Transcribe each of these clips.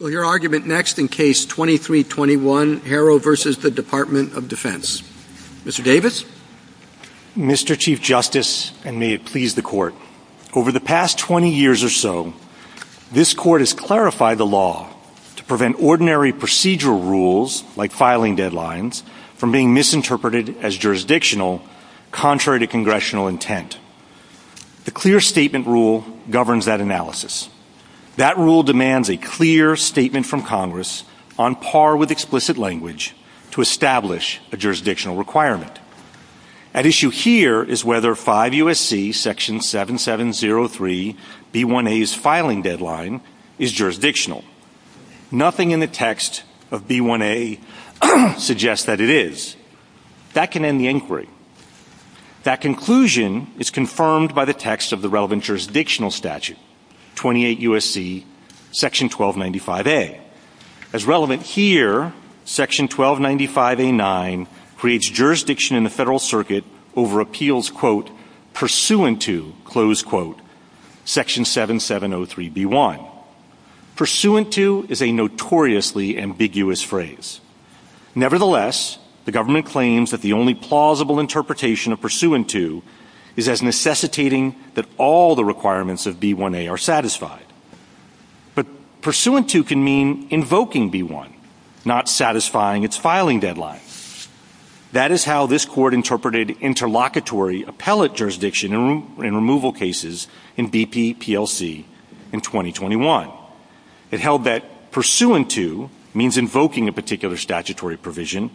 Mr. Chief Justice, and may it please the Court. Over the past 20 years or so, this Court has clarified the law to prevent ordinary procedural rules, like filing deadlines, from being misinterpreted as jurisdictional, contrary to Congressional intent. The Clear Statement Rule governs that analysis. That rule demands a clear statement from Congress, on par with explicit language, to establish a jurisdictional requirement. At issue here is whether 5 U.S.C. § 7703 B1A's filing deadline is jurisdictional. Nothing in the text of B1A suggests that it is. That can end the inquiry. That conclusion is confirmed by the text of the relevant jurisdictional statute, 28 U.S.C. § 1295A. As relevant here, § 1295A9 creates jurisdiction in the Federal Circuit over appeals, quote, pursuant to, close quote, § 7703 B1. Pursuant to is a notoriously ambiguous phrase. Nevertheless, the government claims that the only plausible interpretation of pursuant to is as necessitating that all the requirements of B1A are satisfied. But pursuant to can mean invoking B1, not satisfying its filing deadline. That is how this Court interpreted interlocutory appellate jurisdiction in removal cases in BP PLC in 2021. It held that pursuant to means invoking a particular statutory provision,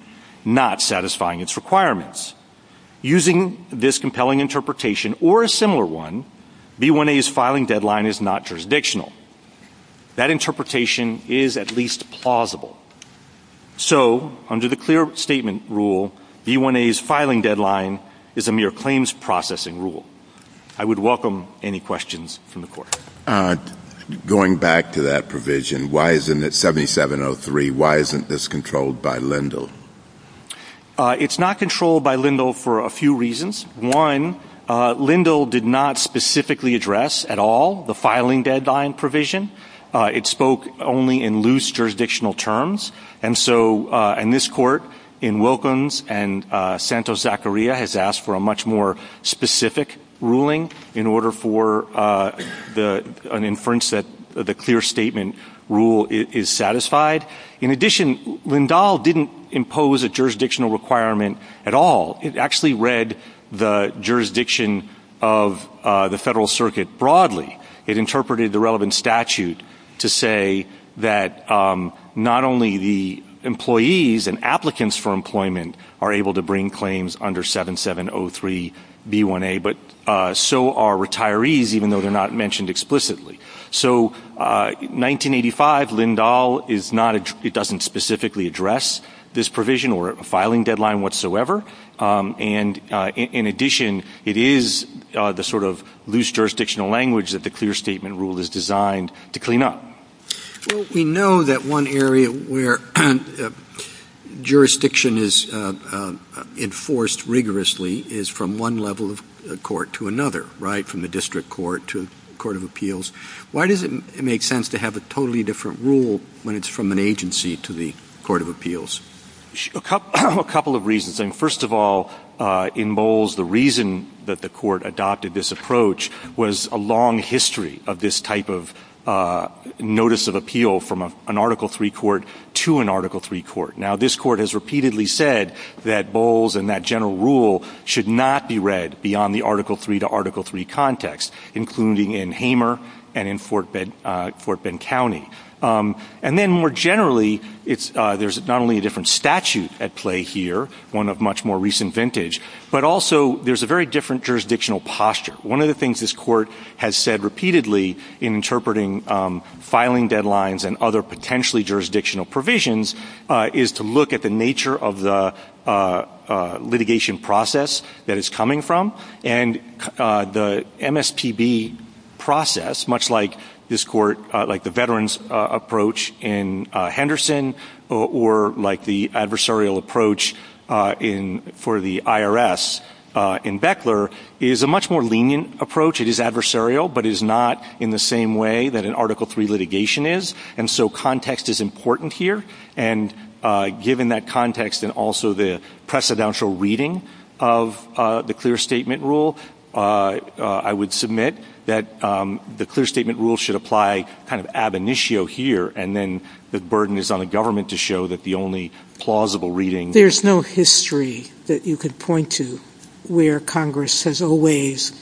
not satisfying its requirements. Using this compelling interpretation, or a similar one, B1A's filing deadline is not jurisdictional. That interpretation is at least plausible. So, under the clear statement rule, B1A's filing deadline is a mere claims processing rule. I would welcome any questions from the Court. Going back to that provision, why isn't it 7703, why isn't this controlled by Lindle? It's not controlled by Lindle for a few reasons. One, Lindle did not specifically address at all the filing deadline provision. It spoke only in loose jurisdictional terms. And so, in this Court, in Wilkins and Santos-Zacharia, has asked for a much more specific ruling in order for an inference that the clear statement rule is satisfied. In addition, Lindle didn't impose a jurisdictional requirement at all. It actually read the jurisdiction of the Federal Circuit broadly. It interpreted the relevant statute to say that not only the employees and applicants for employment are able to bring claims under 7703 B1A, but so are retirees, even though they're not mentioned explicitly. So, 1985, Lindle doesn't specifically address this provision or a filing deadline whatsoever. And in addition, it is the sort of loose jurisdictional language that the clear statement rule is designed to clean up. Well, we know that one area where jurisdiction is enforced rigorously is from one level of court to another, right, from the district court to the court of appeals. Why does it make sense to have a totally different rule when it's from an agency to the court of appeals? A couple of reasons. First of all, in Bowles, the reason that the Court adopted this approach was a long history of this type of notice of appeal from an Article III court to an Article III court. Now, this Court has repeatedly said that Bowles and that general rule should not be read beyond the Article III to Article III context, including in Hamer and in Fort Bend County. And then, more generally, there's not only a different statute at play here, one of much more recent vintage, but also there's a very different jurisdictional posture. One of the things this Court has said repeatedly in interpreting filing deadlines and other potentially jurisdictional provisions is to look at the nature of the litigation process that it's coming from, and the MSPB process, much like this Court, like the veterans' approach in Henderson or like the adversarial approach for the IRS in Beckler, is a much more lenient approach. It is adversarial, but it is not in the same way that an Article III litigation is, and so context is important here. And given that context and also the precedential reading of the clear statement rule, I would submit that the clear statement rule should apply kind of ab initio here, and then the burden is on the government to show that the only plausible reading... There's no history that you could point to where Congress has always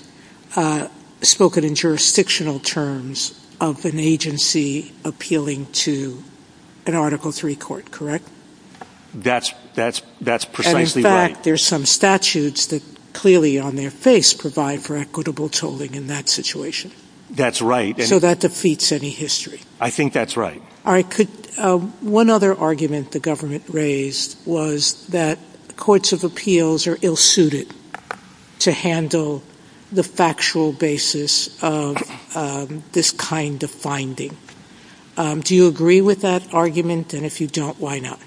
spoken in jurisdictional terms of an agency appealing to an Article III court, correct? That's precisely right. And, in fact, there's some statutes that clearly on their face provide for equitable tolling in that situation. That's right. So that defeats any history. I think that's right. All right. One other argument the government raised was that courts of appeals are ill-suited to handle the factual basis of this kind of finding. Do you agree with that argument? And if you don't, why not?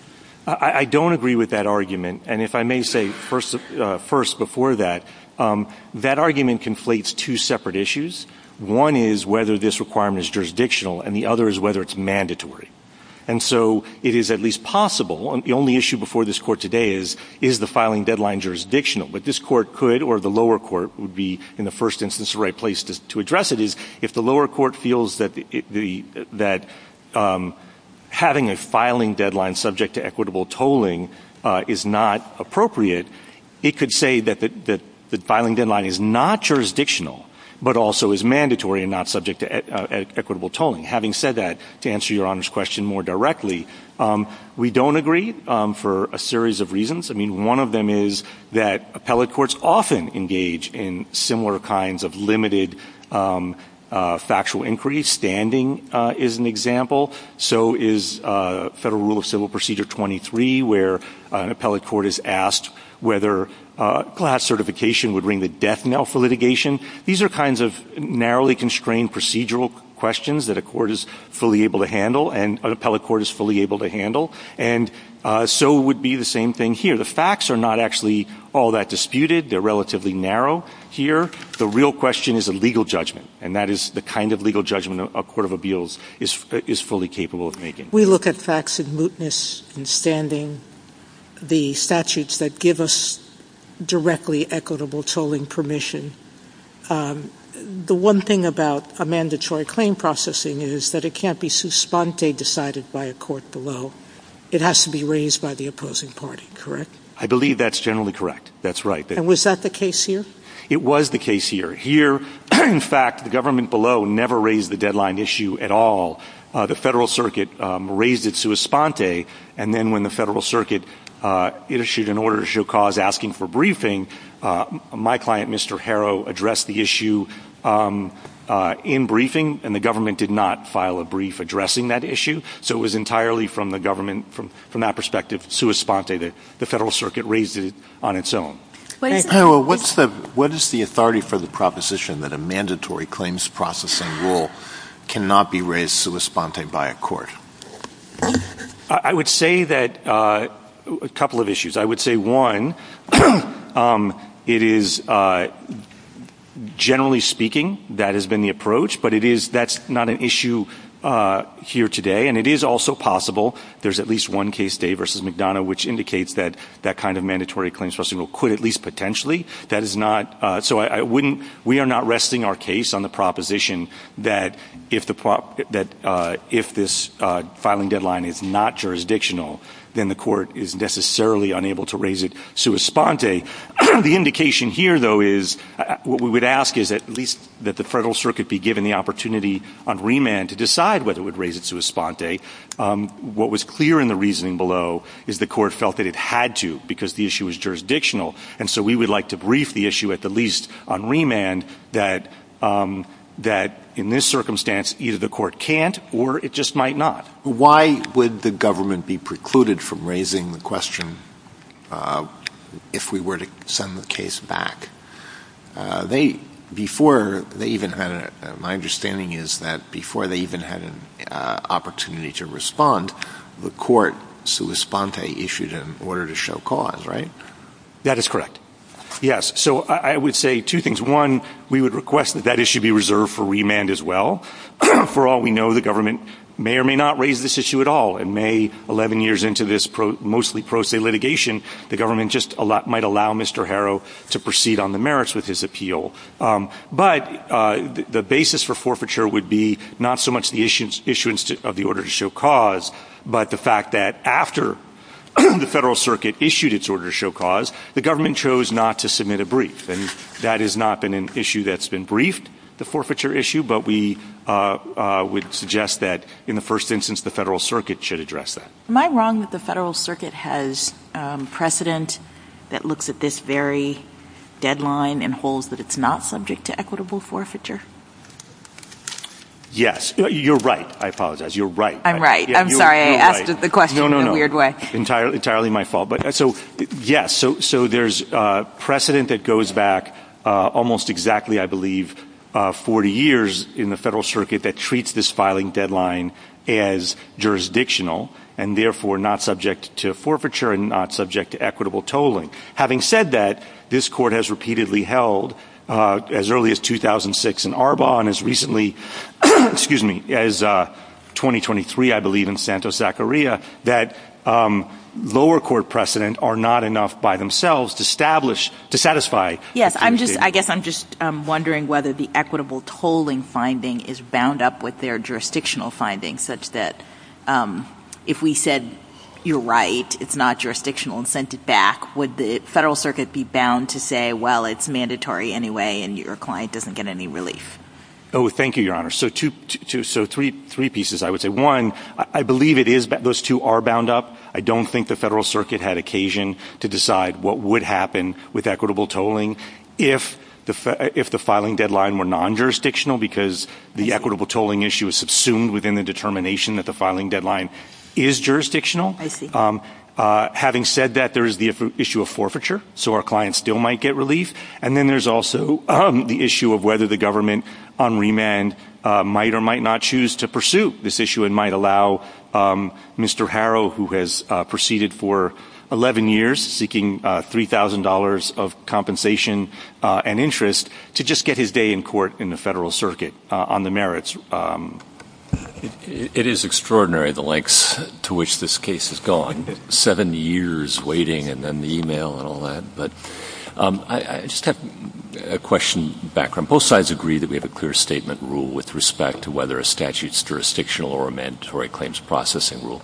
I don't agree with that argument, and if I may say first before that, that argument conflates two separate issues. One is whether this requirement is jurisdictional, and the other is whether it's mandatory. And so it is at least possible, and the only issue before this court today is, is the filing deadline jurisdictional? But this court could, or the lower court would be, in the first instance, the right place to address it, is if the lower court feels that having a filing deadline subject to equitable tolling is not appropriate, it could say that the filing deadline is not jurisdictional, but also is mandatory and not subject to equitable tolling. Having said that, to answer your Honor's question more directly, we don't agree for a series of reasons. I mean, one of them is that appellate courts often engage in similar kinds of limited factual inquiry. Standing is an example. So is Federal Rule of Civil Procedure 23, where an appellate court is asked whether class certification would ring the death knell for litigation. These are kinds of narrowly constrained procedural questions that a court is fully able to handle, and an appellate court is fully able to handle. And so would be the same thing here. The facts are not actually all that disputed. They're relatively narrow here. The real question is a legal judgment, and that is the kind of legal judgment a court of appeals is fully capable of making. We look at facts in mootness, in standing, the statutes that give us directly equitable tolling permission. The one thing about a mandatory claim processing is that it can't be suspante decided by a court below. It has to be raised by the opposing party, correct? I believe that's generally correct. That's right. And was that the case here? It was the case here. Here, in fact, the government below never raised the deadline issue at all. The Federal Circuit raised it suspante, and then when the Federal Circuit issued an order to show cause asking for briefing, my client, Mr. Harrow, addressed the issue in briefing, and the government did not file a brief addressing that issue. So it was entirely from the government, from that perspective, suspante. The Federal Circuit raised it on its own. What is the authority for the proposition that a mandatory claims processing rule cannot be raised suspante by a court? I would say that a couple of issues. I would say, one, it is generally speaking that has been the approach, but that's not an issue here today, and it is also possible. There's at least one case today versus McDonough, which indicates that that kind of mandatory claims processing rule could at least potentially. So we are not resting our case on the proposition that if this filing deadline is not jurisdictional, then the court is necessarily unable to raise it suspante. The indication here, though, is what we would ask is at least that the Federal Circuit be given the opportunity on remand to decide whether it would raise it suspante. What was clear in the reasoning below is the court felt that it had to because the issue was jurisdictional, and so we would like to brief the issue at the least on remand that in this circumstance either the court can't or it just might not. Why would the government be precluded from raising the question if we were to send the case back? My understanding is that before they even had an opportunity to respond, the court suspante issued an order to show cause, right? That is correct. Yes. So I would say two things. One, we would request that that issue be reserved for remand as well. For all we know, the government may or may not raise this issue at all. In May, 11 years into this mostly pro se litigation, the government just might allow Mr. Harrow to proceed on the merits with his appeal. But the basis for forfeiture would be not so much the issuance of the order to show cause, but the fact that after the Federal Circuit issued its order to show cause, the government chose not to submit a brief. And that has not been an issue that's been briefed, the forfeiture issue, but we would suggest that in the first instance the Federal Circuit should address that. Am I wrong that the Federal Circuit has precedent that looks at this very deadline and holds that it's not subject to equitable forfeiture? Yes. You're right. I apologize. You're right. I'm right. I'm sorry. I asked the question in a weird way. No, no, no. Entirely my fault. Yes, so there's precedent that goes back almost exactly, I believe, 40 years in the Federal Circuit that treats this filing deadline as jurisdictional and therefore not subject to forfeiture and not subject to equitable tolling. Having said that, this Court has repeatedly held as early as 2006 in Arbonne, as recently, excuse me, as 2023, I believe, in Santos-Zacharia, that lower court precedent are not enough by themselves to establish, to satisfy. Yes. I'm just, I guess I'm just wondering whether the equitable tolling finding is bound up with their jurisdictional findings such that if we said, you're right, it's not jurisdictional and sent it back, would the Federal Circuit be bound to say, well, it's mandatory anyway, and your client doesn't get any relief? Oh, thank you, Your Honor. So three pieces, I would say. One, I believe it is, those two are bound up. I don't think the Federal Circuit had occasion to decide what would happen with equitable tolling if the filing deadline were non-jurisdictional because the equitable tolling issue is subsumed within the determination that the filing deadline is jurisdictional. I see. Having said that, there is the issue of forfeiture, so our client still might get relief. And then there's also the issue of whether the government on remand might or might not choose to pursue this issue and might allow Mr. Harrow, who has proceeded for 11 years seeking $3,000 of compensation and interest, to just get his day in court in the Federal Circuit on the merits. It is extraordinary the lengths to which this case has gone, seven years waiting and then the e-mail and all that. But I just have a question, background. Both sides agree that we have a clear statement rule with respect to whether a statute is jurisdictional or a mandatory claims processing rule.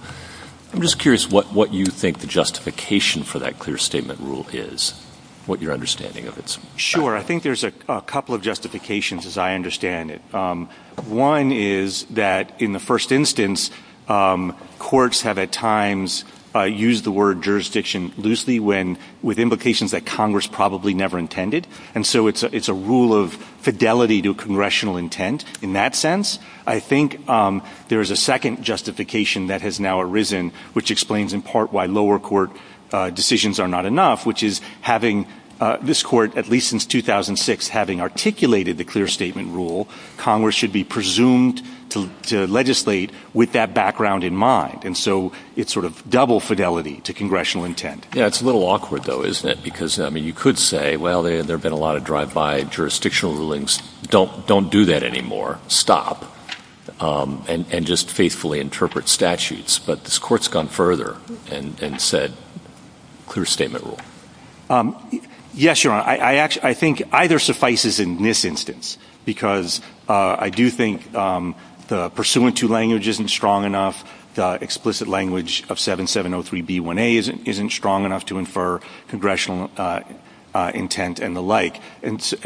I'm just curious what you think the justification for that clear statement rule is, what your understanding of it is. Sure. I think there's a couple of justifications, as I understand it. One is that in the first instance, courts have at times used the word jurisdiction loosely with implications that Congress probably never intended. And so it's a rule of fidelity to congressional intent in that sense. I think there is a second justification that has now arisen, which explains in part why lower court decisions are not enough, which is having this court, at least since 2006, having articulated the clear statement rule, Congress should be presumed to legislate with that background in mind. And so it's sort of double fidelity to congressional intent. Yeah, it's a little awkward, though, isn't it? Because, I mean, you could say, well, there have been a lot of drive-by jurisdictional rulings. Don't do that anymore. Stop. And just faithfully interpret statutes. But this Court's gone further and said clear statement rule. Yes, Your Honor. I think either suffices in this instance because I do think the pursuant to language isn't strong enough. The explicit language of 7703B1A isn't strong enough to infer congressional intent and the like. And so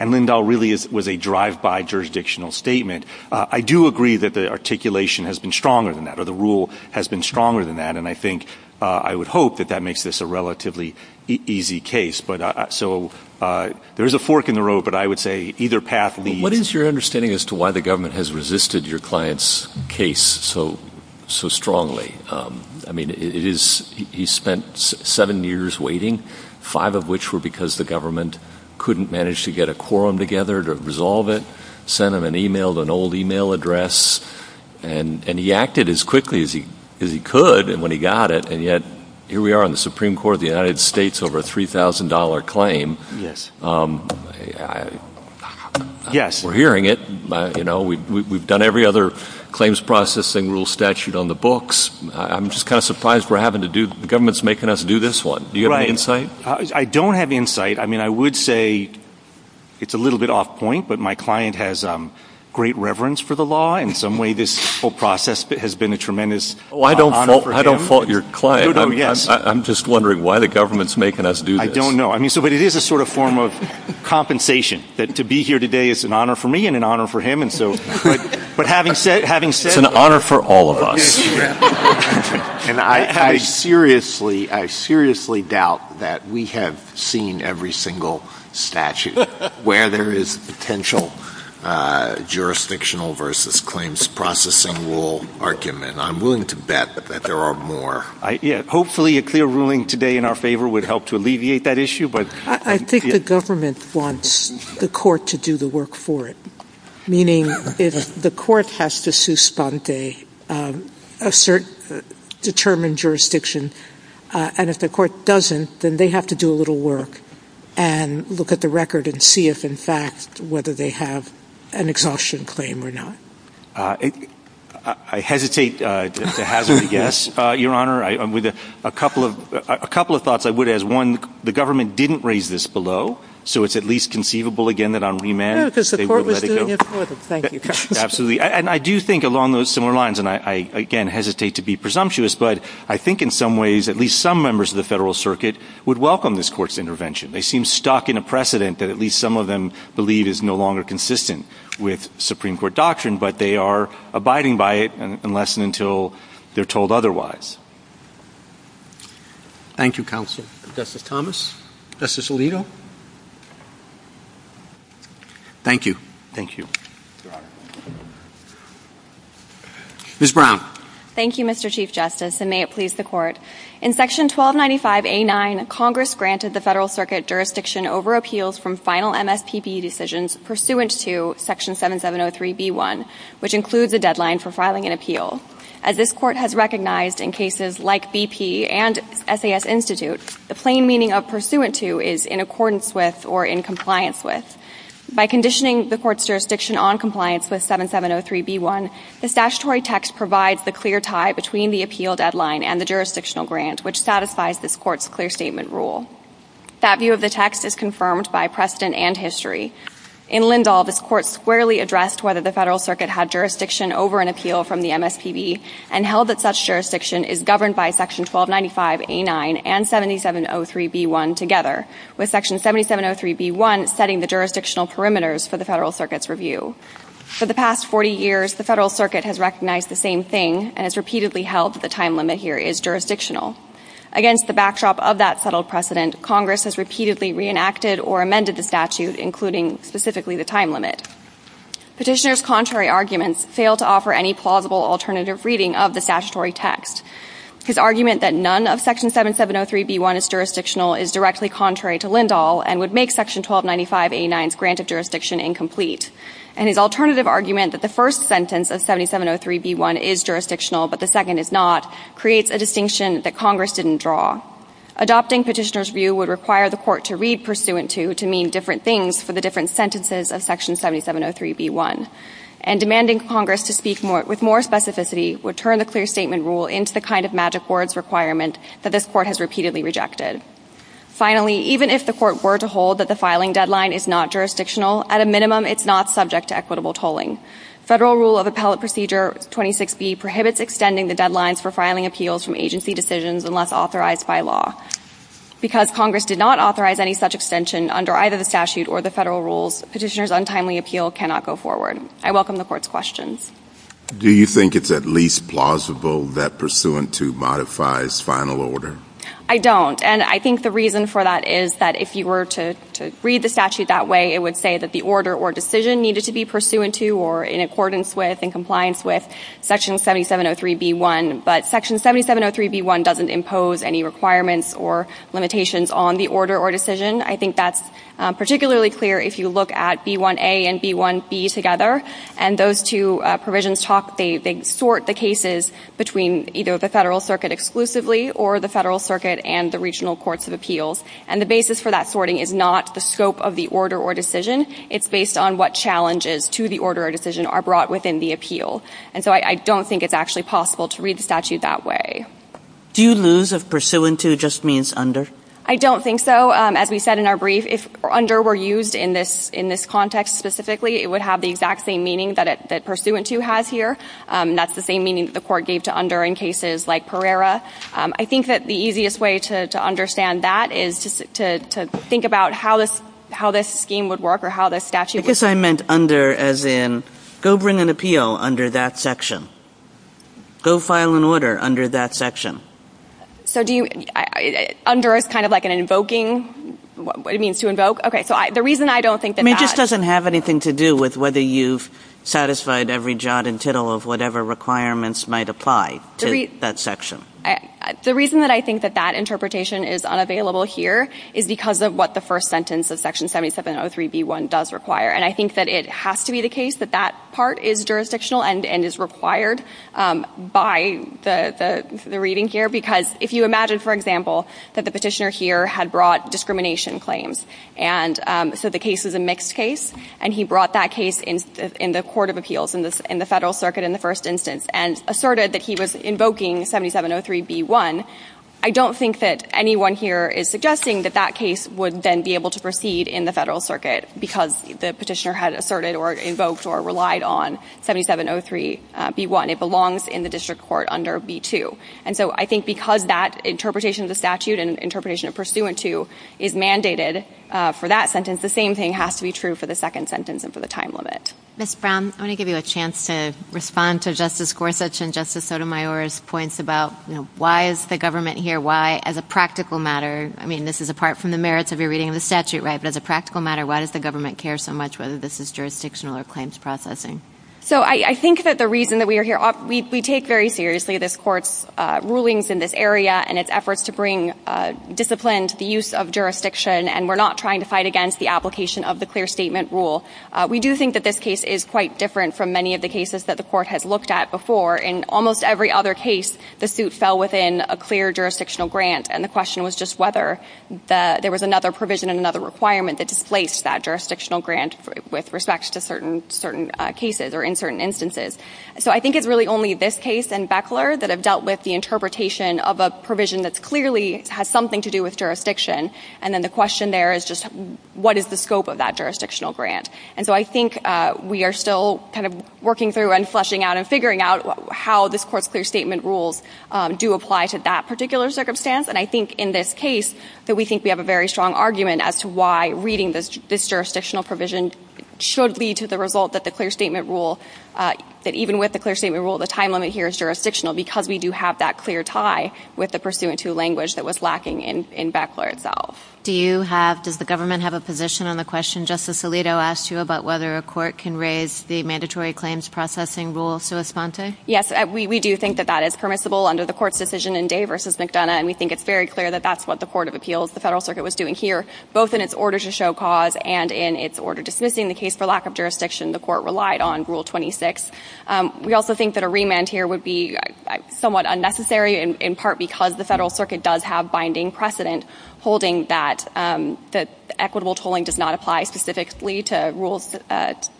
Lindahl really was a drive-by jurisdictional statement. I do agree that the articulation has been stronger than that or the rule has been stronger than that, and I think I would hope that that makes this a relatively easy case. So there is a fork in the road, but I would say either path leads. What is your understanding as to why the government has resisted your client's case so strongly? I mean, he spent seven years waiting, five of which were because the government couldn't manage to get a quorum together to resolve it, sent him an email, an old email address, and he acted as quickly as he could when he got it, and yet here we are in the Supreme Court of the United States over a $3,000 claim. Yes. We're hearing it. You know, we've done every other claims processing rule statute on the books. I'm just kind of surprised we're having to do the government's making us do this one. Do you have any insight? Right. I don't have insight. I mean, I would say it's a little bit off point, but my client has great reverence for the law. In some way, this whole process has been a tremendous honor for him. Well, I don't fault your client. No, no, yes. I'm just wondering why the government's making us do this. I don't know. But it is a sort of form of compensation, that to be here today is an honor for me and an honor for him. But having said that. It's an honor for all of us. And I seriously doubt that we have seen every single statute where there is potential jurisdictional versus claims processing rule argument. I'm willing to bet that there are more. Hopefully a clear ruling today in our favor would help to alleviate that issue. I think the government wants the court to do the work for it. Meaning, if the court has to suspend a certain determined jurisdiction, and if the court doesn't, then they have to do a little work and look at the record and see if, in fact, whether they have an exhaustion claim or not. I hesitate to hazard a guess, Your Honor. A couple of thoughts I would add. One, the government didn't raise this below, so it's at least conceivable, again, that on remand they would let it go. No, because the court was doing it for them. Thank you. Absolutely. And I do think along those similar lines, and I, again, hesitate to be presumptuous, but I think in some ways at least some members of the federal circuit would welcome this court's intervention. They seem stuck in a precedent that at least some of them believe is no longer consistent with Supreme Court doctrine. But they are abiding by it unless and until they're told otherwise. Thank you, Counsel. Justice Thomas. Justice Alito. Thank you. Thank you. Your Honor. Ms. Brown. Thank you, Mr. Chief Justice, and may it please the court. In Section 1295A9, Congress granted the federal circuit jurisdiction over appeals from final MSPP decisions pursuant to Section 7703b1, which includes a deadline for filing an appeal. As this court has recognized in cases like BP and SAS Institute, the plain meaning of pursuant to is in accordance with or in compliance with. By conditioning the court's jurisdiction on compliance with 7703b1, the statutory text provides the clear tie between the appeal deadline and the jurisdictional grant, which satisfies this court's clear statement rule. That view of the text is confirmed by precedent and history. In Lindahl, this court squarely addressed whether the federal circuit had jurisdiction over an appeal from the MSPB and held that such jurisdiction is governed by Section 1295A9 and 7703b1 together, with Section 7703b1 setting the jurisdictional perimeters for the federal circuit's review. For the past 40 years, the federal circuit has recognized the same thing and has repeatedly held that the time limit here is jurisdictional. Against the backdrop of that settled precedent, Congress has repeatedly reenacted or amended the statute, including specifically the time limit. Petitioner's contrary arguments fail to offer any plausible alternative reading of the statutory text. His argument that none of Section 7703b1 is jurisdictional is directly contrary to Lindahl and would make Section 1295A9's grant of jurisdiction incomplete. And his alternative argument that the first sentence of 7703b1 is jurisdictional but the second is not creates a distinction that Congress didn't draw. Adopting petitioner's view would require the court to read pursuant to to mean different things for the different sentences of Section 7703b1. And demanding Congress to speak with more specificity would turn the clear statement rule into the kind of magic words requirement that this court has repeatedly rejected. Finally, even if the court were to hold that the filing deadline is not jurisdictional, at a minimum it's not subject to equitable tolling. Federal Rule of Appellate Procedure 26b prohibits extending the deadlines for filing appeals from agency decisions unless authorized by law. Because Congress did not authorize any such extension under either the statute or the federal rules, petitioner's untimely appeal cannot go forward. I welcome the court's questions. Do you think it's at least plausible that pursuant to modifies final order? I don't. And I think the reason for that is that if you were to read the statute that way, it would say that the order or decision needed to be pursuant to or in accordance with and compliance with Section 7703b1. But Section 7703b1 doesn't impose any requirements or limitations on the order or decision. I think that's particularly clear if you look at b1a and b1b together. And those two provisions talk, they sort the cases between either the federal circuit exclusively or the federal circuit and the regional courts of appeals. And the basis for that sorting is not the scope of the order or decision. It's based on what challenges to the order or decision are brought within the appeal. And so I don't think it's actually possible to read the statute that way. Do you lose if pursuant to just means under? I don't think so. As we said in our brief, if under were used in this context specifically, it would have the exact same meaning that pursuant to has here. And that's the same meaning that the court gave to under in cases like Pereira. I think that the easiest way to understand that is to think about how this scheme would work or how this statute would work. I guess I meant under as in go bring an appeal under that section. Go file an order under that section. So do you, under is kind of like an invoking, what it means to invoke. Okay, so the reason I don't think that that. I mean it just doesn't have anything to do with whether you've satisfied every jot and tittle of whatever requirements might apply to that section. The reason that I think that that interpretation is unavailable here is because of what the first sentence of section 7703B1 does require. And I think that it has to be the case that that part is jurisdictional and is required by the reading here. Because if you imagine, for example, that the petitioner here had brought discrimination claims. And so the case is a mixed case. And he brought that case in the court of appeals, in the federal circuit in the first instance. And asserted that he was invoking 7703B1. I don't think that anyone here is suggesting that that case would then be able to proceed in the federal circuit. Because the petitioner had asserted or invoked or relied on 7703B1. It belongs in the district court under B2. And so I think because that interpretation of the statute and interpretation of pursuant to is mandated for that sentence. The same thing has to be true for the second sentence and for the time limit. Ms. Brown, I want to give you a chance to respond to Justice Gorsuch and Justice Sotomayor's points about why is the government here? Why, as a practical matter, I mean this is apart from the merits of your reading of the statute, right? But as a practical matter, why does the government care so much whether this is jurisdictional or claims processing? So I think that the reason that we are here, we take very seriously this court's rulings in this area. And its efforts to bring discipline to the use of jurisdiction. And we're not trying to fight against the application of the clear statement rule. We do think that this case is quite different from many of the cases that the court has looked at before. In almost every other case, the suit fell within a clear jurisdictional grant. And the question was just whether there was another provision and another requirement that displaced that jurisdictional grant. With respect to certain cases or in certain instances. So I think it's really only this case and Beckler that have dealt with the interpretation of a provision that clearly has something to do with jurisdiction. And then the question there is just what is the scope of that jurisdictional grant? And so I think we are still kind of working through and fleshing out and figuring out how this court's clear statement rules do apply to that particular circumstance. And I think in this case that we think we have a very strong argument as to why reading this jurisdictional provision should lead to the result that the clear statement rule. That even with the clear statement rule, the time limit here is jurisdictional. Because we do have that clear tie with the pursuant to language that was lacking in Beckler itself. Do you have, does the government have a position on the question Justice Alito asked you about whether a court can raise the mandatory claims processing rule sua sponte? Yes, we do think that that is permissible under the court's decision in Day v. McDonough. And we think it's very clear that that's what the Court of Appeals, the Federal Circuit, was doing here. Both in its order to show cause and in its order dismissing the case for lack of jurisdiction, the court relied on Rule 26. We also think that a remand here would be somewhat unnecessary in part because the Federal Circuit does have binding precedent holding that the equitable tolling does not apply specifically to rules,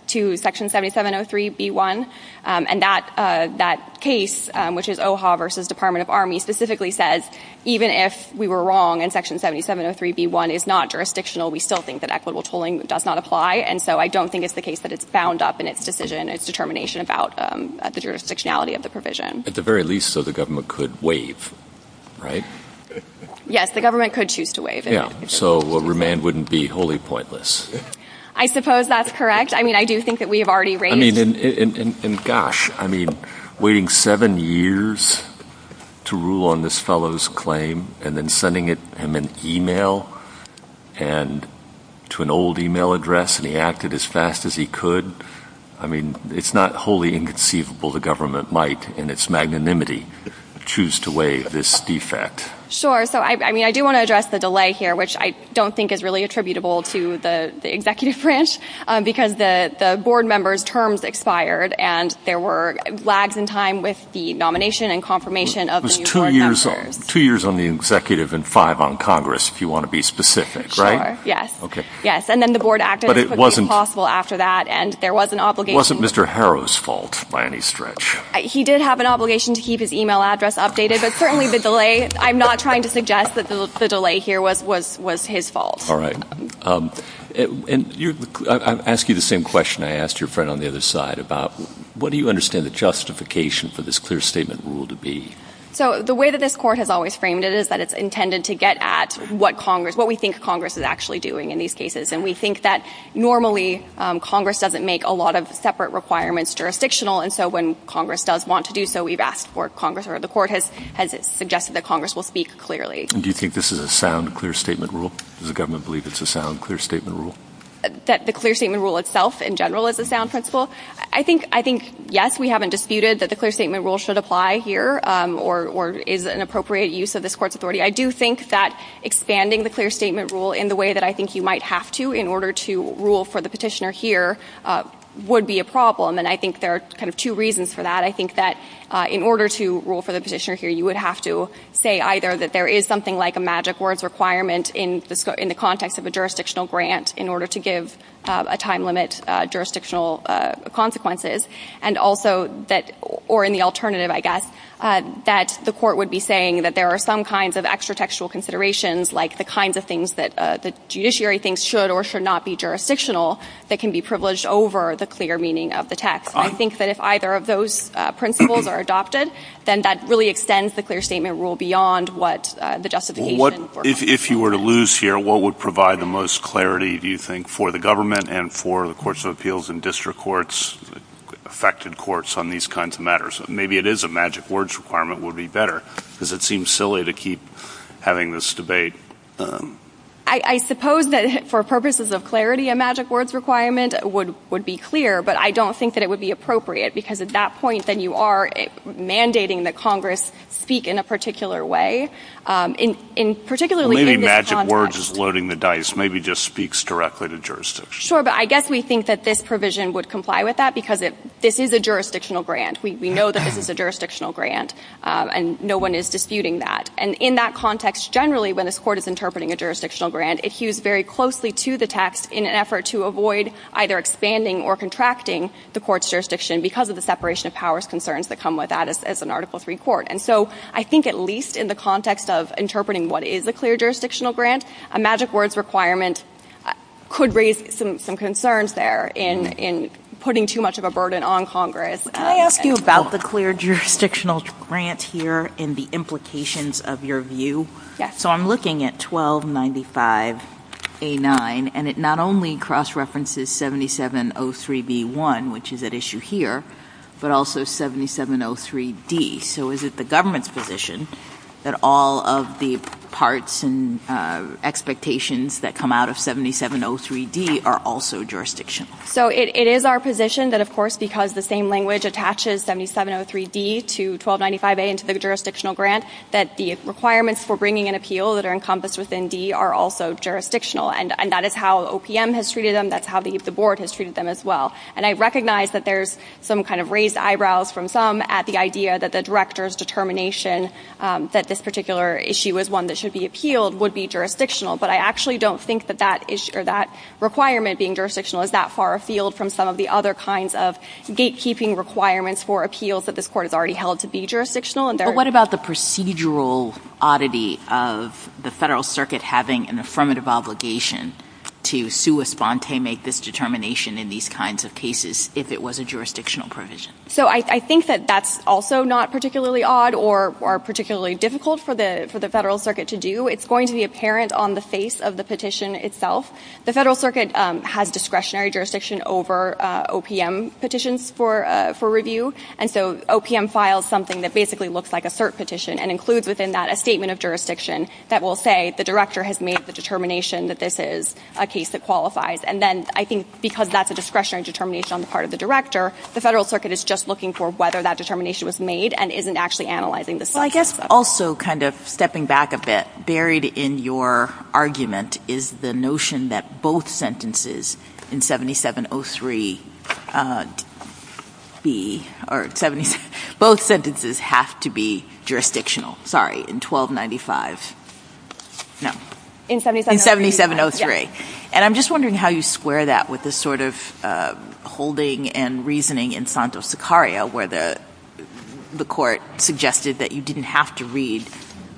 to Section 7703b1. And that case, which is OHA v. Department of Army, specifically says even if we were wrong and Section 7703b1 is not jurisdictional, we still think that equitable tolling does not apply. And so I don't think it's the case that it's bound up in its decision, its determination about the jurisdictionality of the provision. At the very least, so the government could waive, right? Yes, the government could choose to waive it. Yeah, so a remand wouldn't be wholly pointless. I suppose that's correct. I mean, I do think that we have already raised I mean, and gosh, I mean, waiting seven years to rule on this fellow's claim and then sending him an e-mail and to an old e-mail address and he acted as fast as he could. I mean, it's not wholly inconceivable the government might in its magnanimity choose to waive this defect. Sure. So, I mean, I do want to address the delay here, which I don't think is really attributable to the executive branch because the board members' terms expired and there were lags in time with the nomination and confirmation of the new board members. It was two years on the executive and five on Congress, if you want to be specific, right? Sure, yes. Okay. Yes, and then the board acted as quickly as possible after that and there was an obligation It wasn't Mr. Harrow's fault by any stretch. He did have an obligation to keep his e-mail address updated, but certainly the delay, I'm not trying to suggest that the delay here was his fault. All right. And I ask you the same question I asked your friend on the other side about what do you understand the justification for this clear statement rule to be? So, the way that this court has always framed it is that it's intended to get at what Congress, what we think Congress is actually doing in these cases. And we think that normally Congress doesn't make a lot of separate requirements jurisdictional. And so when Congress does want to do so, we've asked for Congress or the court has suggested that Congress will speak clearly. Do you think this is a sound clear statement rule? Does the government believe it's a sound clear statement rule? That the clear statement rule itself in general is a sound principle? I think, yes, we haven't disputed that the clear statement rule should apply here or is an appropriate use of this court's authority. I do think that expanding the clear statement rule in the way that I think you might have to in order to rule for the petitioner here would be a problem. And I think there are kind of two reasons for that. I think that in order to rule for the petitioner here, you would have to say either that there is something like a magic words requirement in the context of a jurisdictional grant in order to give a time limit jurisdictional consequences. And also that or in the alternative, I guess, that the court would be saying that there are some kinds of extra textual considerations like the kinds of things that the judiciary thinks should or should not be jurisdictional that can be privileged over the clear meaning of the text. I think that if either of those principles are adopted, then that really extends the clear statement rule beyond what the justification. Well, if you were to lose here, what would provide the most clarity, do you think, for the government and for the courts of appeals and district courts, affected courts on these kinds of matters? Maybe it is a magic words requirement would be better because it seems silly to keep having this debate. I suppose that for purposes of clarity, a magic words requirement would be clear. But I don't think that it would be appropriate because at that point, then you are mandating that Congress speak in a particular way, particularly in this context. Maybe magic words is loading the dice, maybe just speaks directly to jurisdiction. Sure, but I guess we think that this provision would comply with that because this is a jurisdictional grant. We know that this is a jurisdictional grant. And no one is disputing that. And in that context, generally, when this court is interpreting a jurisdictional grant, it hews very closely to the text in an effort to avoid either expanding or contracting the court's jurisdiction because of the separation of powers concerns that come with that as an Article III court. And so I think at least in the context of interpreting what is a clear jurisdictional grant, a magic words requirement could raise some concerns there in putting too much of a burden on Congress. Can I ask you about the clear jurisdictional grant here and the implications of your view? Yes. So I'm looking at 1295A9, and it not only cross-references 7703B1, which is at issue here, but also 7703D. So is it the government's position that all of the parts and expectations that come out of 7703D are also jurisdictional? So it is our position that, of course, because the same language attaches 7703D to 1295A into the jurisdictional grant, that the requirements for bringing an appeal that are encompassed within D are also jurisdictional. And that is how OPM has treated them. That's how the board has treated them as well. And I recognize that there's some kind of raised eyebrows from some at the idea that the Director's determination that this particular issue is one that should be appealed would be jurisdictional. But I actually don't think that that requirement being jurisdictional is that far afield from some of the other kinds of gatekeeping requirements for appeals that this Court has already held to be jurisdictional. But what about the procedural oddity of the Federal Circuit having an affirmative obligation to sua sponte make this determination in these kinds of cases if it was a jurisdictional provision? So I think that that's also not particularly odd or particularly difficult for the Federal Circuit to do. It's going to be apparent on the face of the petition itself. The Federal Circuit has discretionary jurisdiction over OPM petitions for review. And so OPM files something that basically looks like a cert petition and includes within that a statement of jurisdiction that will say the Director has made the determination that this is a case that qualifies. And then I think because that's a discretionary determination on the part of the Director, the Federal Circuit is just looking for whether that determination was made and isn't actually analyzing this section. Well, I guess also kind of stepping back a bit, buried in your argument is the notion that both sentences in 7703 have to be jurisdictional. Sorry, in 1295. No. In 7703. And I'm just wondering how you square that with the sort of holding and reasoning in Santos-Sicario where the court suggested that you didn't have to read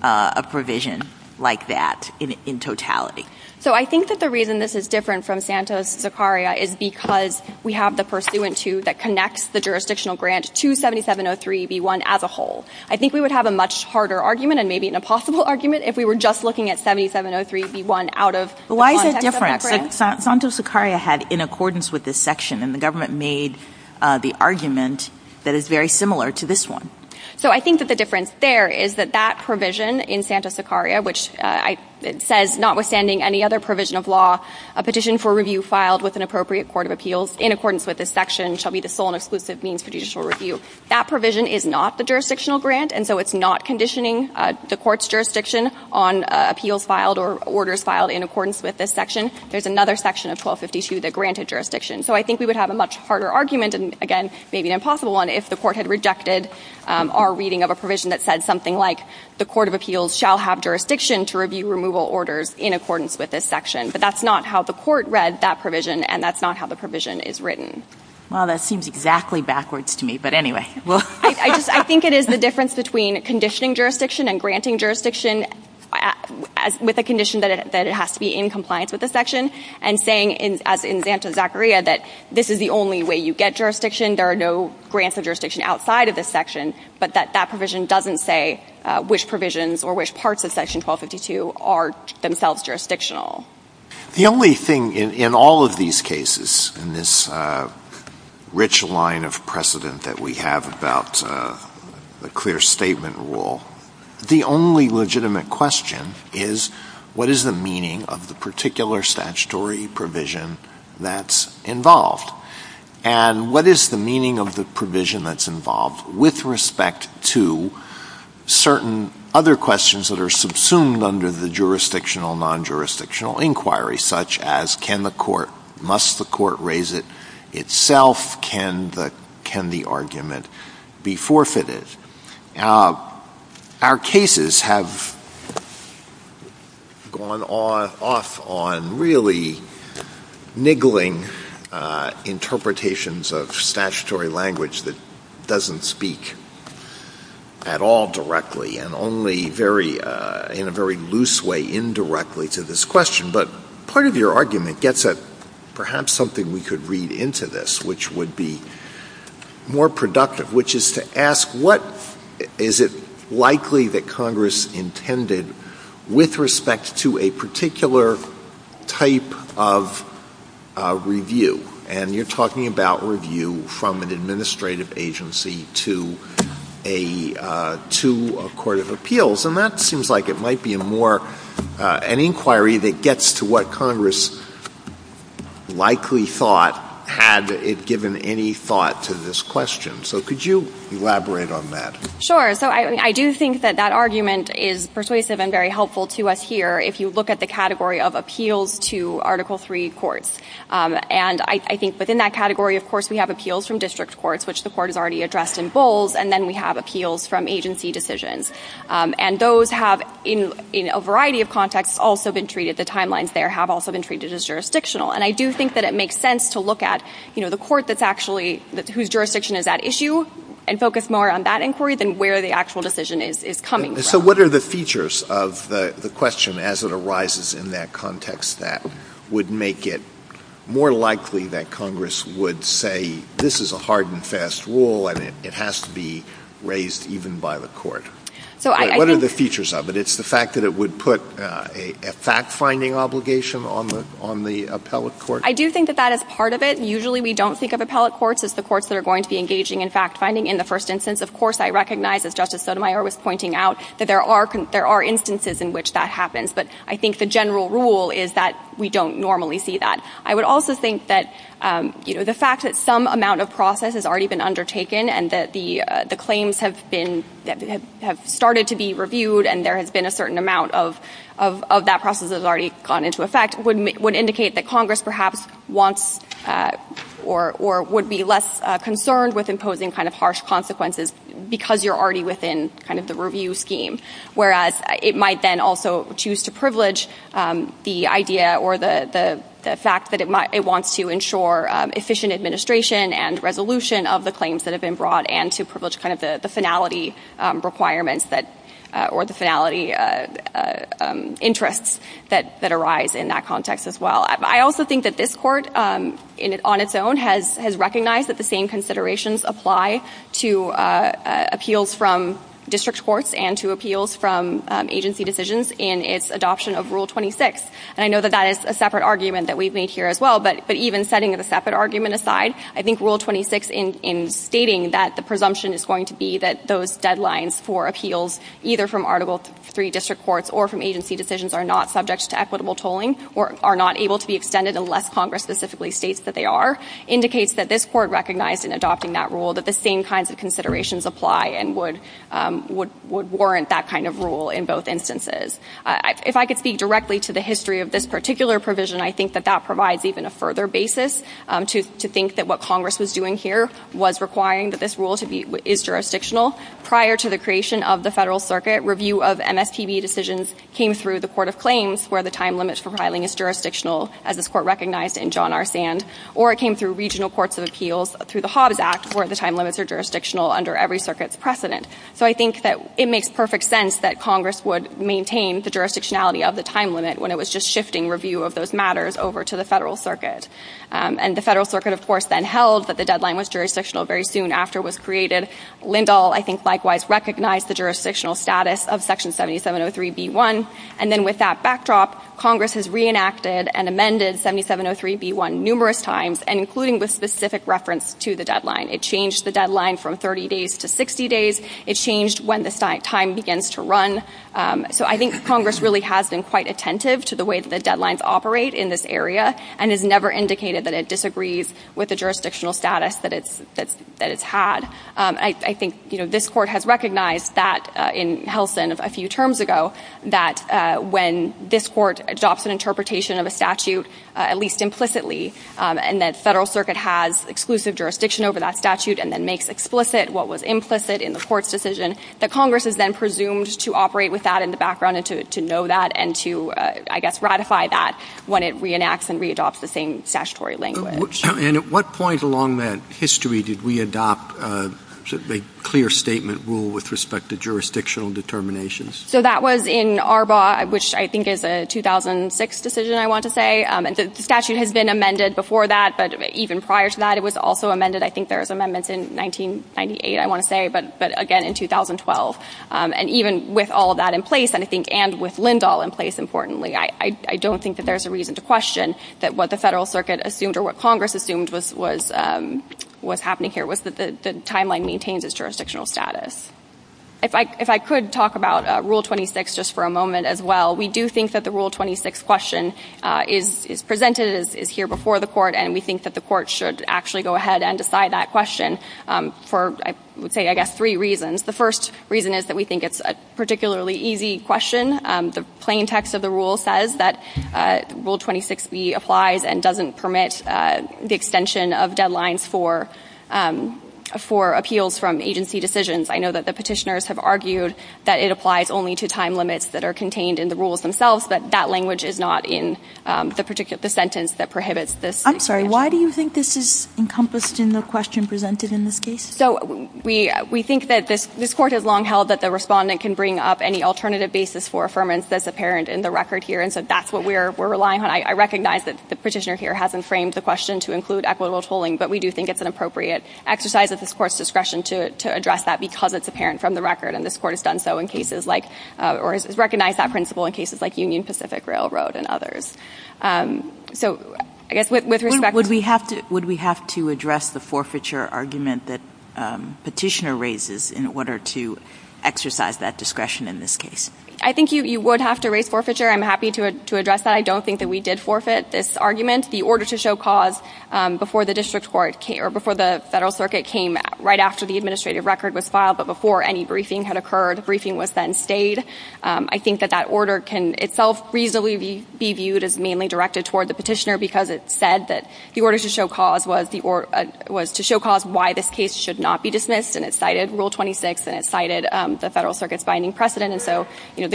a provision like that in totality. So I think that the reason this is different from Santos-Sicario is because we have the pursuant to that connects the jurisdictional grant to 7703b1 as a whole. I think we would have a much harder argument and maybe an impossible argument if we were just looking at 7703b1 out of the context of that grant. But why is that different? Santos-Sicario had in accordance with this section, and the government made the argument that is very similar to this one. So I think that the difference there is that that provision in Santos-Sicario, which says notwithstanding any other provision of law, a petition for review filed with an appropriate court of appeals in accordance with this section shall be the sole and exclusive means for judicial review. That provision is not the jurisdictional grant, and so it's not conditioning the court's jurisdiction on appeals filed or orders filed in accordance with this section. There's another section of 1252 that granted jurisdiction. So I think we would have a much harder argument, and again, maybe an impossible one, if the court had rejected our reading of a provision that said something like the court of appeals shall have jurisdiction to review removal orders in accordance with this section. But that's not how the court read that provision, and that's not how the provision is written. Well, that seems exactly backwards to me, but anyway. I think it is the difference between conditioning jurisdiction and granting jurisdiction with a condition that it has to be in compliance with this section, and saying, as in Santos-Sicario, that this is the only way you get jurisdiction, there are no grants of jurisdiction outside of this section, but that that provision doesn't say which provisions or which parts of section 1252 are themselves jurisdictional. The only thing in all of these cases, in this rich line of precedent that we have about the clear statement rule, the only legitimate question is what is the meaning of the particular statutory provision that's involved? And what is the meaning of the provision that's involved with respect to certain other questions that are subsumed under the jurisdictional, non-jurisdictional inquiry, such as can the court, must the court raise it itself, can the argument be forfeited? Our cases have gone off on really niggling interpretations of statutory language that doesn't speak at all directly, and only in a very loose way indirectly to this question. But part of your argument gets at perhaps something we could read into this, which would be more productive, which is to ask what is it likely that Congress intended with respect to a particular type of review. And you're talking about review from an administrative agency to a court of appeals. And that seems like it might be a more, an inquiry that gets to what Congress likely thought had it given any thought to this question. So could you elaborate on that? Sure. So I do think that that argument is persuasive and very helpful to us here if you look at the category of appeals to Article III courts. And I think within that category, of course, we have appeals from district courts, which the court has already addressed in Bowles, and then we have appeals from agency decisions. And those have, in a variety of contexts, also been treated, the timelines there have also been treated as jurisdictional. And I do think that it makes sense to look at the court that's actually, whose jurisdiction is at issue, and focus more on that inquiry than where the actual decision is coming from. So what are the features of the question as it arises in that context that would make it more likely that Congress would say, this is a hard and fast rule and it has to be raised even by the court? What are the features of it? It's the fact that it would put a fact-finding obligation on the appellate court? I do think that that is part of it. Usually we don't think of appellate courts as the courts that are going to be engaging in fact-finding in the first instance. Of course, I recognize, as Justice Sotomayor was pointing out, that there are instances in which that happens. But I think the general rule is that we don't normally see that. I would also think that the fact that some amount of process has already been undertaken and that the claims have started to be reviewed and there has been a certain amount of that process that has already gone into effect would indicate that Congress perhaps wants or would be less concerned with imposing harsh consequences because you're already within the review scheme. Whereas it might then also choose to privilege the idea or the fact that it wants to ensure efficient administration and resolution of the claims that have been brought and to privilege the finality requirements or the finality interests that arise in that context as well. I also think that this court, on its own, has recognized that the same considerations apply to appeals from district courts and to appeals from agency decisions in its adoption of Rule 26. And I know that that is a separate argument that we've made here as well. But even setting the separate argument aside, I think Rule 26 in stating that the presumption is going to be that those deadlines for appeals either from Article III district courts or from agency decisions are not subject to equitable tolling or are not able to be extended unless Congress specifically states that they are indicates that this court recognized in adopting that rule that the same kinds of considerations apply and would warrant that kind of rule in both instances. If I could speak directly to the history of this particular provision, I think that that provides even a further basis to think that what Congress was doing here was requiring that this rule is jurisdictional. Prior to the creation of the Federal Circuit, review of MSPB decisions came through the Court of Claims where the time limit for filing is jurisdictional, as this court recognized in John R. Sand. Or it came through regional courts of appeals through the Hobbs Act where the time limits are jurisdictional under every circuit's precedent. So I think that it makes perfect sense that Congress would maintain the jurisdictionality of the time limit when it was just shifting review of those matters over to the Federal Circuit. And the Federal Circuit, of course, then held that the deadline was jurisdictional very soon after it was created. Lindahl, I think, likewise recognized the jurisdictional status of Section 7703b1. And then with that backdrop, Congress has reenacted and amended 7703b1 numerous times, and including with specific reference to the deadline. It changed the deadline from 30 days to 60 days. It changed when the time begins to run. So I think Congress really has been quite attentive to the way that the deadlines operate in this area and has never indicated that it disagrees with the jurisdictional status that it's had. I think this Court has recognized that in Helsin a few terms ago, that when this Court adopts an interpretation of a statute, at least implicitly, and that the Federal Circuit has exclusive jurisdiction over that statute and then makes explicit what was implicit in the Court's decision, that Congress is then presumed to operate with that in the background and to know that and to, I guess, ratify that when it reenacts and readopts the same statutory language. And at what point along that history did we adopt a clear statement rule with respect to jurisdictional determinations? So that was in Arbaugh, which I think is a 2006 decision, I want to say. And the statute has been amended before that, but even prior to that it was also amended. I think there was amendments in 1998, I want to say, but again in 2012. And even with all of that in place, and I think with Lindahl in place, importantly, I don't think that there's a reason to question that what the Federal Circuit assumed or what Congress assumed was happening here was that the timeline maintains its jurisdictional status. If I could talk about Rule 26 just for a moment as well. We do think that the Rule 26 question is presented, is here before the Court, and we think that the Court should actually go ahead and decide that question for, I would say, I guess, three reasons. The first reason is that we think it's a particularly easy question. The plain text of the rule says that Rule 26b applies and doesn't permit the extension of deadlines for appeals from agency decisions. I know that the Petitioners have argued that it applies only to time limits that are contained in the rules themselves, but that language is not in the particular sentence that prohibits this. I'm sorry. Why do you think this is encompassed in the question presented in this case? So we think that this Court has long held that the Respondent can bring up any alternative basis for affirmance that's apparent in the record here, and so that's what we're relying on. I recognize that the Petitioner here hasn't framed the question to include equitable tolling, but we do think it's an appropriate exercise of this Court's discretion to address that because it's apparent from the record, and this Court has done so in cases like, or has recognized that principle in cases like Union Pacific Railroad and others. So I guess with respect to the ---- Would we have to address the forfeiture argument that Petitioner raises in order to show cause? I think you would have to raise forfeiture. I'm happy to address that. I don't think that we did forfeit this argument. The order to show cause before the District Court came, or before the Federal Circuit came right after the administrative record was filed, but before any briefing had occurred, the briefing was then stayed. I think that that order can itself reasonably be viewed as mainly directed toward the Petitioner because it said that the order to show cause was to show cause why this case should not be dismissed, and it cited Rule 26, and it cited the Federal Circuit. The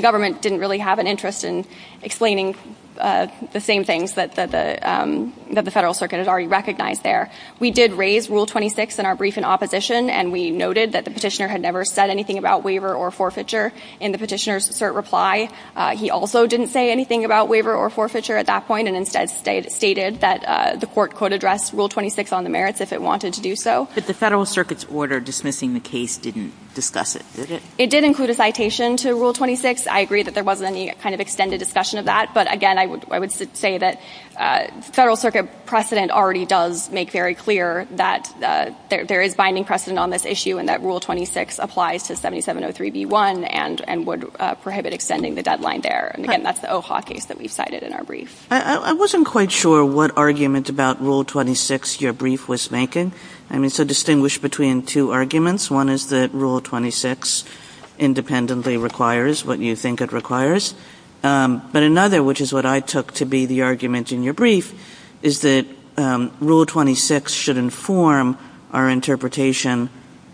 Government didn't really have an interest in explaining the same things that the Federal Circuit had already recognized there. We did raise Rule 26 in our briefing opposition, and we noted that the Petitioner had never said anything about waiver or forfeiture in the Petitioner's cert reply. He also didn't say anything about waiver or forfeiture at that point and instead stated that the Court could address Rule 26 on the merits if it wanted to do so. But the Federal Circuit's order dismissing the case didn't discuss it, did it? It did include a citation to Rule 26. I agree that there wasn't any kind of extended discussion of that. But again, I would say that the Federal Circuit precedent already does make very clear that there is binding precedent on this issue and that Rule 26 applies to 7703b1 and would prohibit extending the deadline there. And again, that's the OHA case that we've cited in our brief. I wasn't quite sure what argument about Rule 26 your brief was making. I mean, so distinguish between two arguments. One is that Rule 26 independently requires what you think it requires. But another, which is what I took to be the argument in your brief, is that Rule 26 should inform our interpretation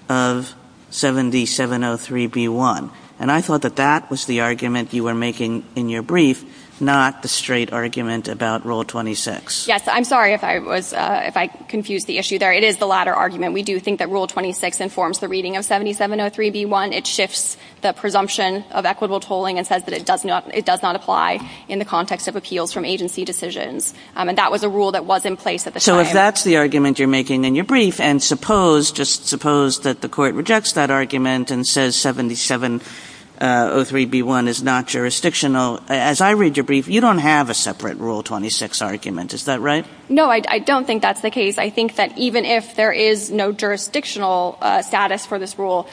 of 7703b1. And I thought that that was the argument you were making in your brief, not the straight argument about Rule 26. Yes. I'm sorry if I was – if I confused the issue there. It is the latter argument. We do think that Rule 26 informs the reading of 7703b1. It shifts the presumption of equitable tolling and says that it does not – it does not apply in the context of appeals from agency decisions. And that was a rule that was in place at the time. So if that's the argument you're making in your brief, and suppose – just suppose that the Court rejects that argument and says 7703b1 is not jurisdictional, as I read your brief, you don't have a separate Rule 26 argument. Is that right? No, I don't think that's the case. I think that even if there is no jurisdictional status for this rule,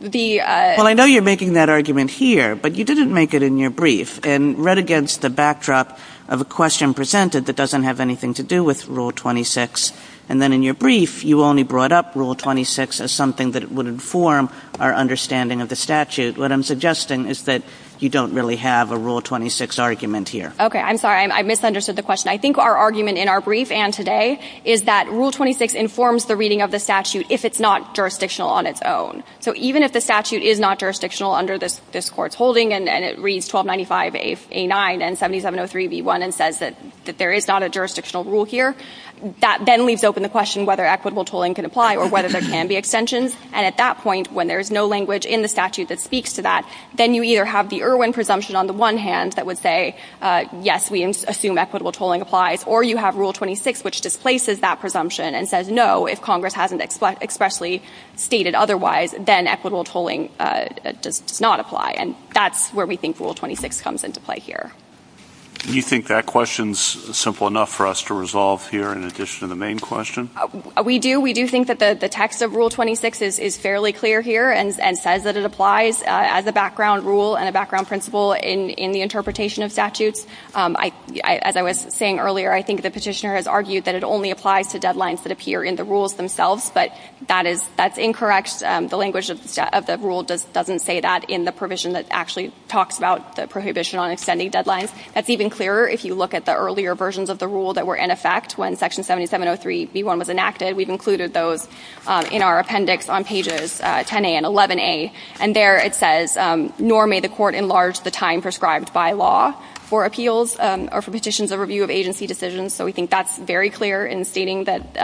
the – Well, I know you're making that argument here, but you didn't make it in your brief and read against the backdrop of a question presented that doesn't have anything to do with Rule 26. And then in your brief, you only brought up Rule 26 as something that would inform our understanding of the statute. What I'm suggesting is that you don't really have a Rule 26 argument here. Okay. I'm sorry. I misunderstood the question. I think our argument in our brief and today is that Rule 26 informs the reading of the statute if it's not jurisdictional on its own. So even if the statute is not jurisdictional under this Court's holding and it reads 1295a9 and 7703b1 and says that there is not a jurisdictional rule here, that then leaves open the question whether equitable tolling can apply or whether there can be extensions. And at that point, when there is no language in the statute that speaks to that, then you either have the Irwin presumption on the one hand that would say, yes, we assume equitable tolling applies, or you have Rule 26, which displaces that presumption and says, no, if Congress hasn't expressly stated otherwise, then equitable tolling does not apply. And that's where we think Rule 26 comes into play here. Do you think that question is simple enough for us to resolve here in addition to the main question? We do. We do think that the text of Rule 26 is fairly clear here and says that it applies as a background rule and a background principle in the interpretation of statutes. As I was saying earlier, I think the petitioner has argued that it only applies to deadlines that appear in the rules themselves, but that's incorrect. The language of the rule doesn't say that in the provision that actually talks about the prohibition on extending deadlines. That's even clearer if you look at the earlier versions of the rule that were in effect when Section 7703b1 was enacted. We've included those in our appendix on pages 10a and 11a. And there it says, nor may the Court enlarge the time prescribed by law for appeals or for petitions of review of agency decisions. So we think that's very clear in stating that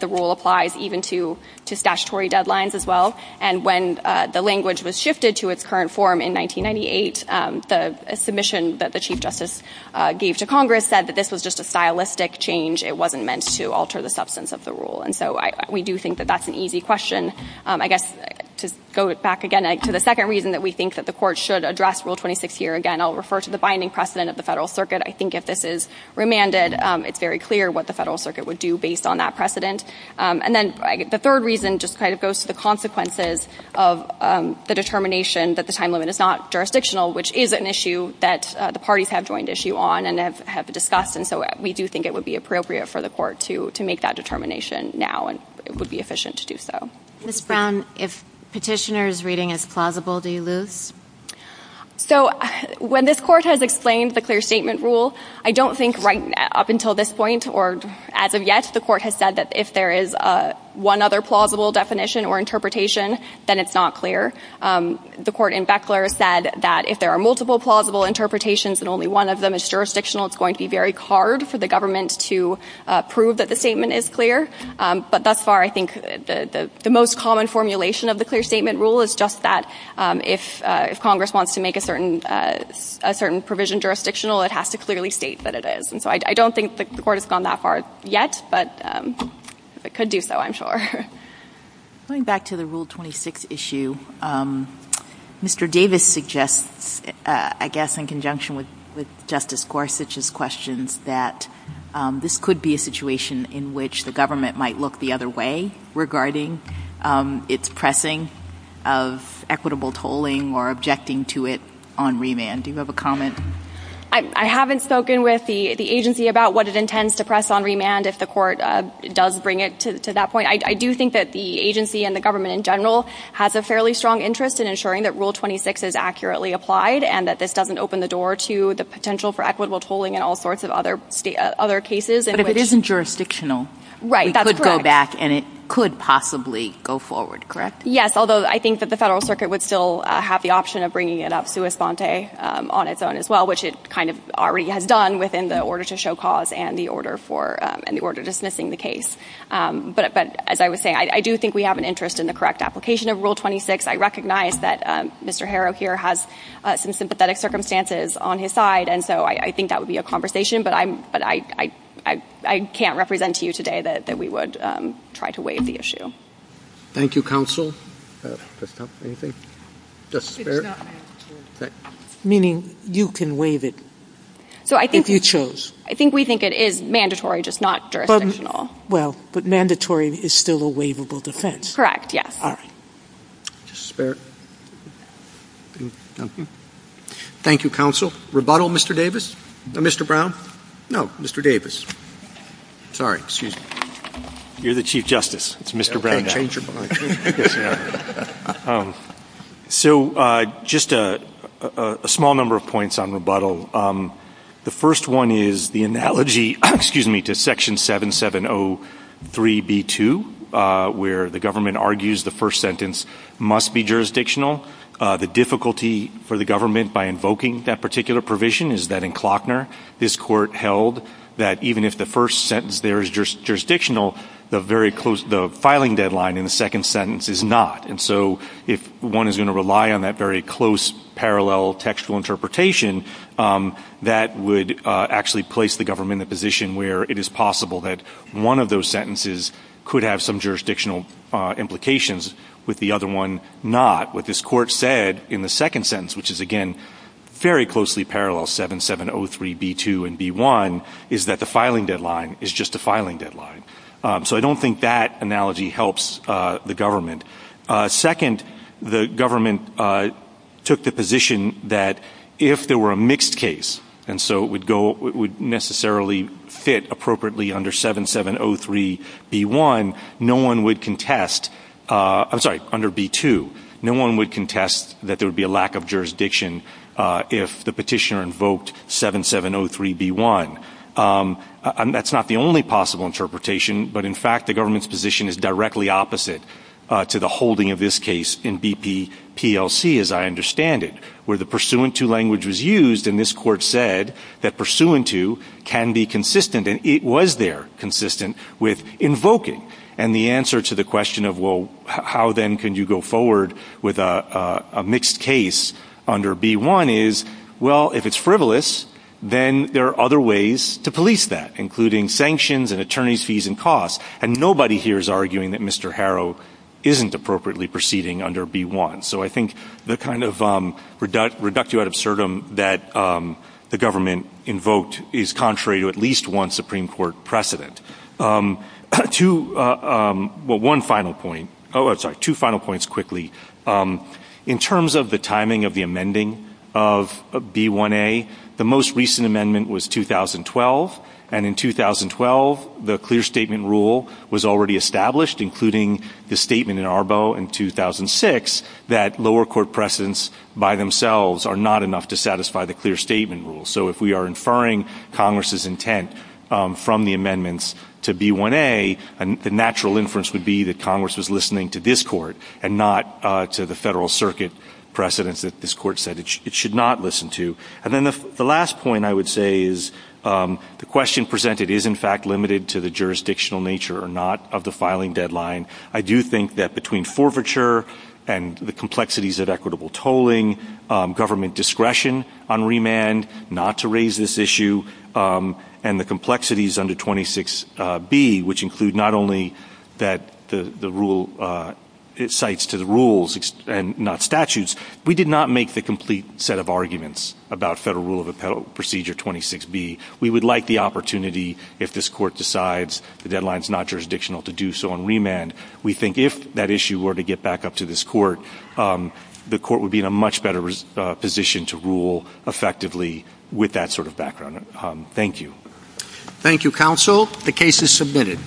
the rule applies even to statutory deadlines as well. And when the language was shifted to its current form in 1998, the submission that the Chief Justice gave to Congress said that this was just a stylistic change. It wasn't meant to alter the substance of the rule. And so we do think that that's an easy question. I guess to go back again to the second reason that we think that the Court should address Rule 26 here, again, I'll refer to the binding precedent of the Federal Circuit. I think if this is remanded, it's very clear what the Federal Circuit would do based on that precedent. And then the third reason just kind of goes to the consequences of the determination that the time limit is not jurisdictional, which is an issue that the parties have joined issue on and have discussed. And so we do think it would be appropriate for the Court to make that determination now, and it would be efficient to do so. Ms. Brown, if petitioner's reading is plausible, do you lose? So, when this Court has explained the clear statement rule, I don't think right up until this point or as of yet the Court has said that if there is one other plausible definition or interpretation, then it's not clear. The Court in Beckler said that if there are multiple plausible interpretations and only one of them is jurisdictional, it's going to be very hard for the government to prove that the statement is clear. But thus far, I think the most common formulation of the clear statement rule is just that if Congress wants to make a certain provision jurisdictional, it has to clearly state that it is. And so I don't think the Court has gone that far yet, but it could do so, I'm sure. Going back to the Rule 26 issue, Mr. Davis suggests, I guess in conjunction with Justice Gorsuch's questions, that this could be a situation in which the government might look the other way regarding its pressing of equitable tolling or objecting to it on remand. Do you have a comment? I haven't spoken with the agency about what it intends to press on remand if the Court does bring it to that point. I do think that the agency and the government in general has a fairly strong interest in ensuring that Rule 26 is accurately applied and that this doesn't open the door to the potential for equitable tolling and all sorts of other cases. But if it isn't jurisdictional, we could go back and it could possibly go forward, correct? Yes, although I think that the Federal Circuit would still have the option of bringing it up sua sponte on its own as well, which it kind of already has done within the order to show cause and the order dismissing the case. But as I was saying, I do think we have an interest in the correct application of Rule 26. I recognize that Mr. Harrow here has some sympathetic circumstances on his side, and so I think that would be a conversation, but I can't represent to you today that we would try to waive the issue. Thank you, counsel. It's not mandatory. Meaning you can waive it if you chose. I think we think it is mandatory, just not jurisdictional. Well, but mandatory is still a waivable defense. Correct, yes. All right. Thank you, counsel. Rebuttal, Mr. Davis? No, Mr. Brown? No, Mr. Davis. Sorry, excuse me. You're the Chief Justice. It's Mr. Brown now. Okay, change your mind. So just a small number of points on rebuttal. The first one is the analogy, excuse me, to Section 7703b2, where the government argues the first sentence must be jurisdictional. The difficulty for the government by invoking that particular provision is that in Klockner, this Court held that even if the first sentence there is jurisdictional, the filing deadline in the second sentence is not. And so if one is going to rely on that very close parallel textual interpretation, that would actually place the government in the position where it is possible that one of those sentences could have some jurisdictional implications, with the other one not. What this Court said in the second sentence, which is again very closely parallel, 7703b2 and b1, is that the filing deadline is just a filing deadline. So I don't think that analogy helps the government. Second, the government took the position that if there were a mixed case, and so it would necessarily fit appropriately under 7703b1, no one would contest, I'm sorry, under b2, no one would contest that there would be a lack of jurisdiction if the petitioner invoked 7703b1. That's not the only possible interpretation, but in fact the government's position is directly opposite to the holding of this case in BP-PLC, as I understand it, where the pursuant to language was used, and this Court said that pursuant to can be consistent, and it was there consistent with invoking. And the answer to the question of, well, how then can you go forward with a mixed case under b1 is, well, if it's frivolous, then there are other ways to police that, including sanctions and attorney's fees and costs. And nobody here is arguing that Mr. Harrow isn't appropriately proceeding under b1. So I think the kind of reductio ad absurdum that the government invoked is contrary to at least one Supreme Court precedent. One final point. Oh, I'm sorry, two final points quickly. In terms of the timing of the amending of b1a, the most recent amendment was 2012, and in 2012 the clear statement rule was already established, including the statement in Arbo in 2006 that lower court precedents by themselves are not enough to satisfy the clear statement rule. So if we are inferring Congress's intent from the amendments to b1a, the natural inference would be that Congress was listening to this Court and not to the Federal Circuit precedents that this Court said it should not listen to. And then the last point I would say is the question presented is in fact limited to the jurisdictional nature or not of the filing deadline. I do think that between forfeiture and the complexities of equitable tolling, government discretion on remand not to raise this issue, and the complexities under 26b, which include not only that the rule cites to the rules and not statutes, we did not make the complete set of arguments about Federal Rule of Procedure 26b. We would like the opportunity if this Court decides the deadline is not jurisdictional to do so on remand. We think if that issue were to get back up to this Court, the Court would be in a much better position to rule effectively with that sort of background. Thank you. Thank you, counsel. The case is submitted.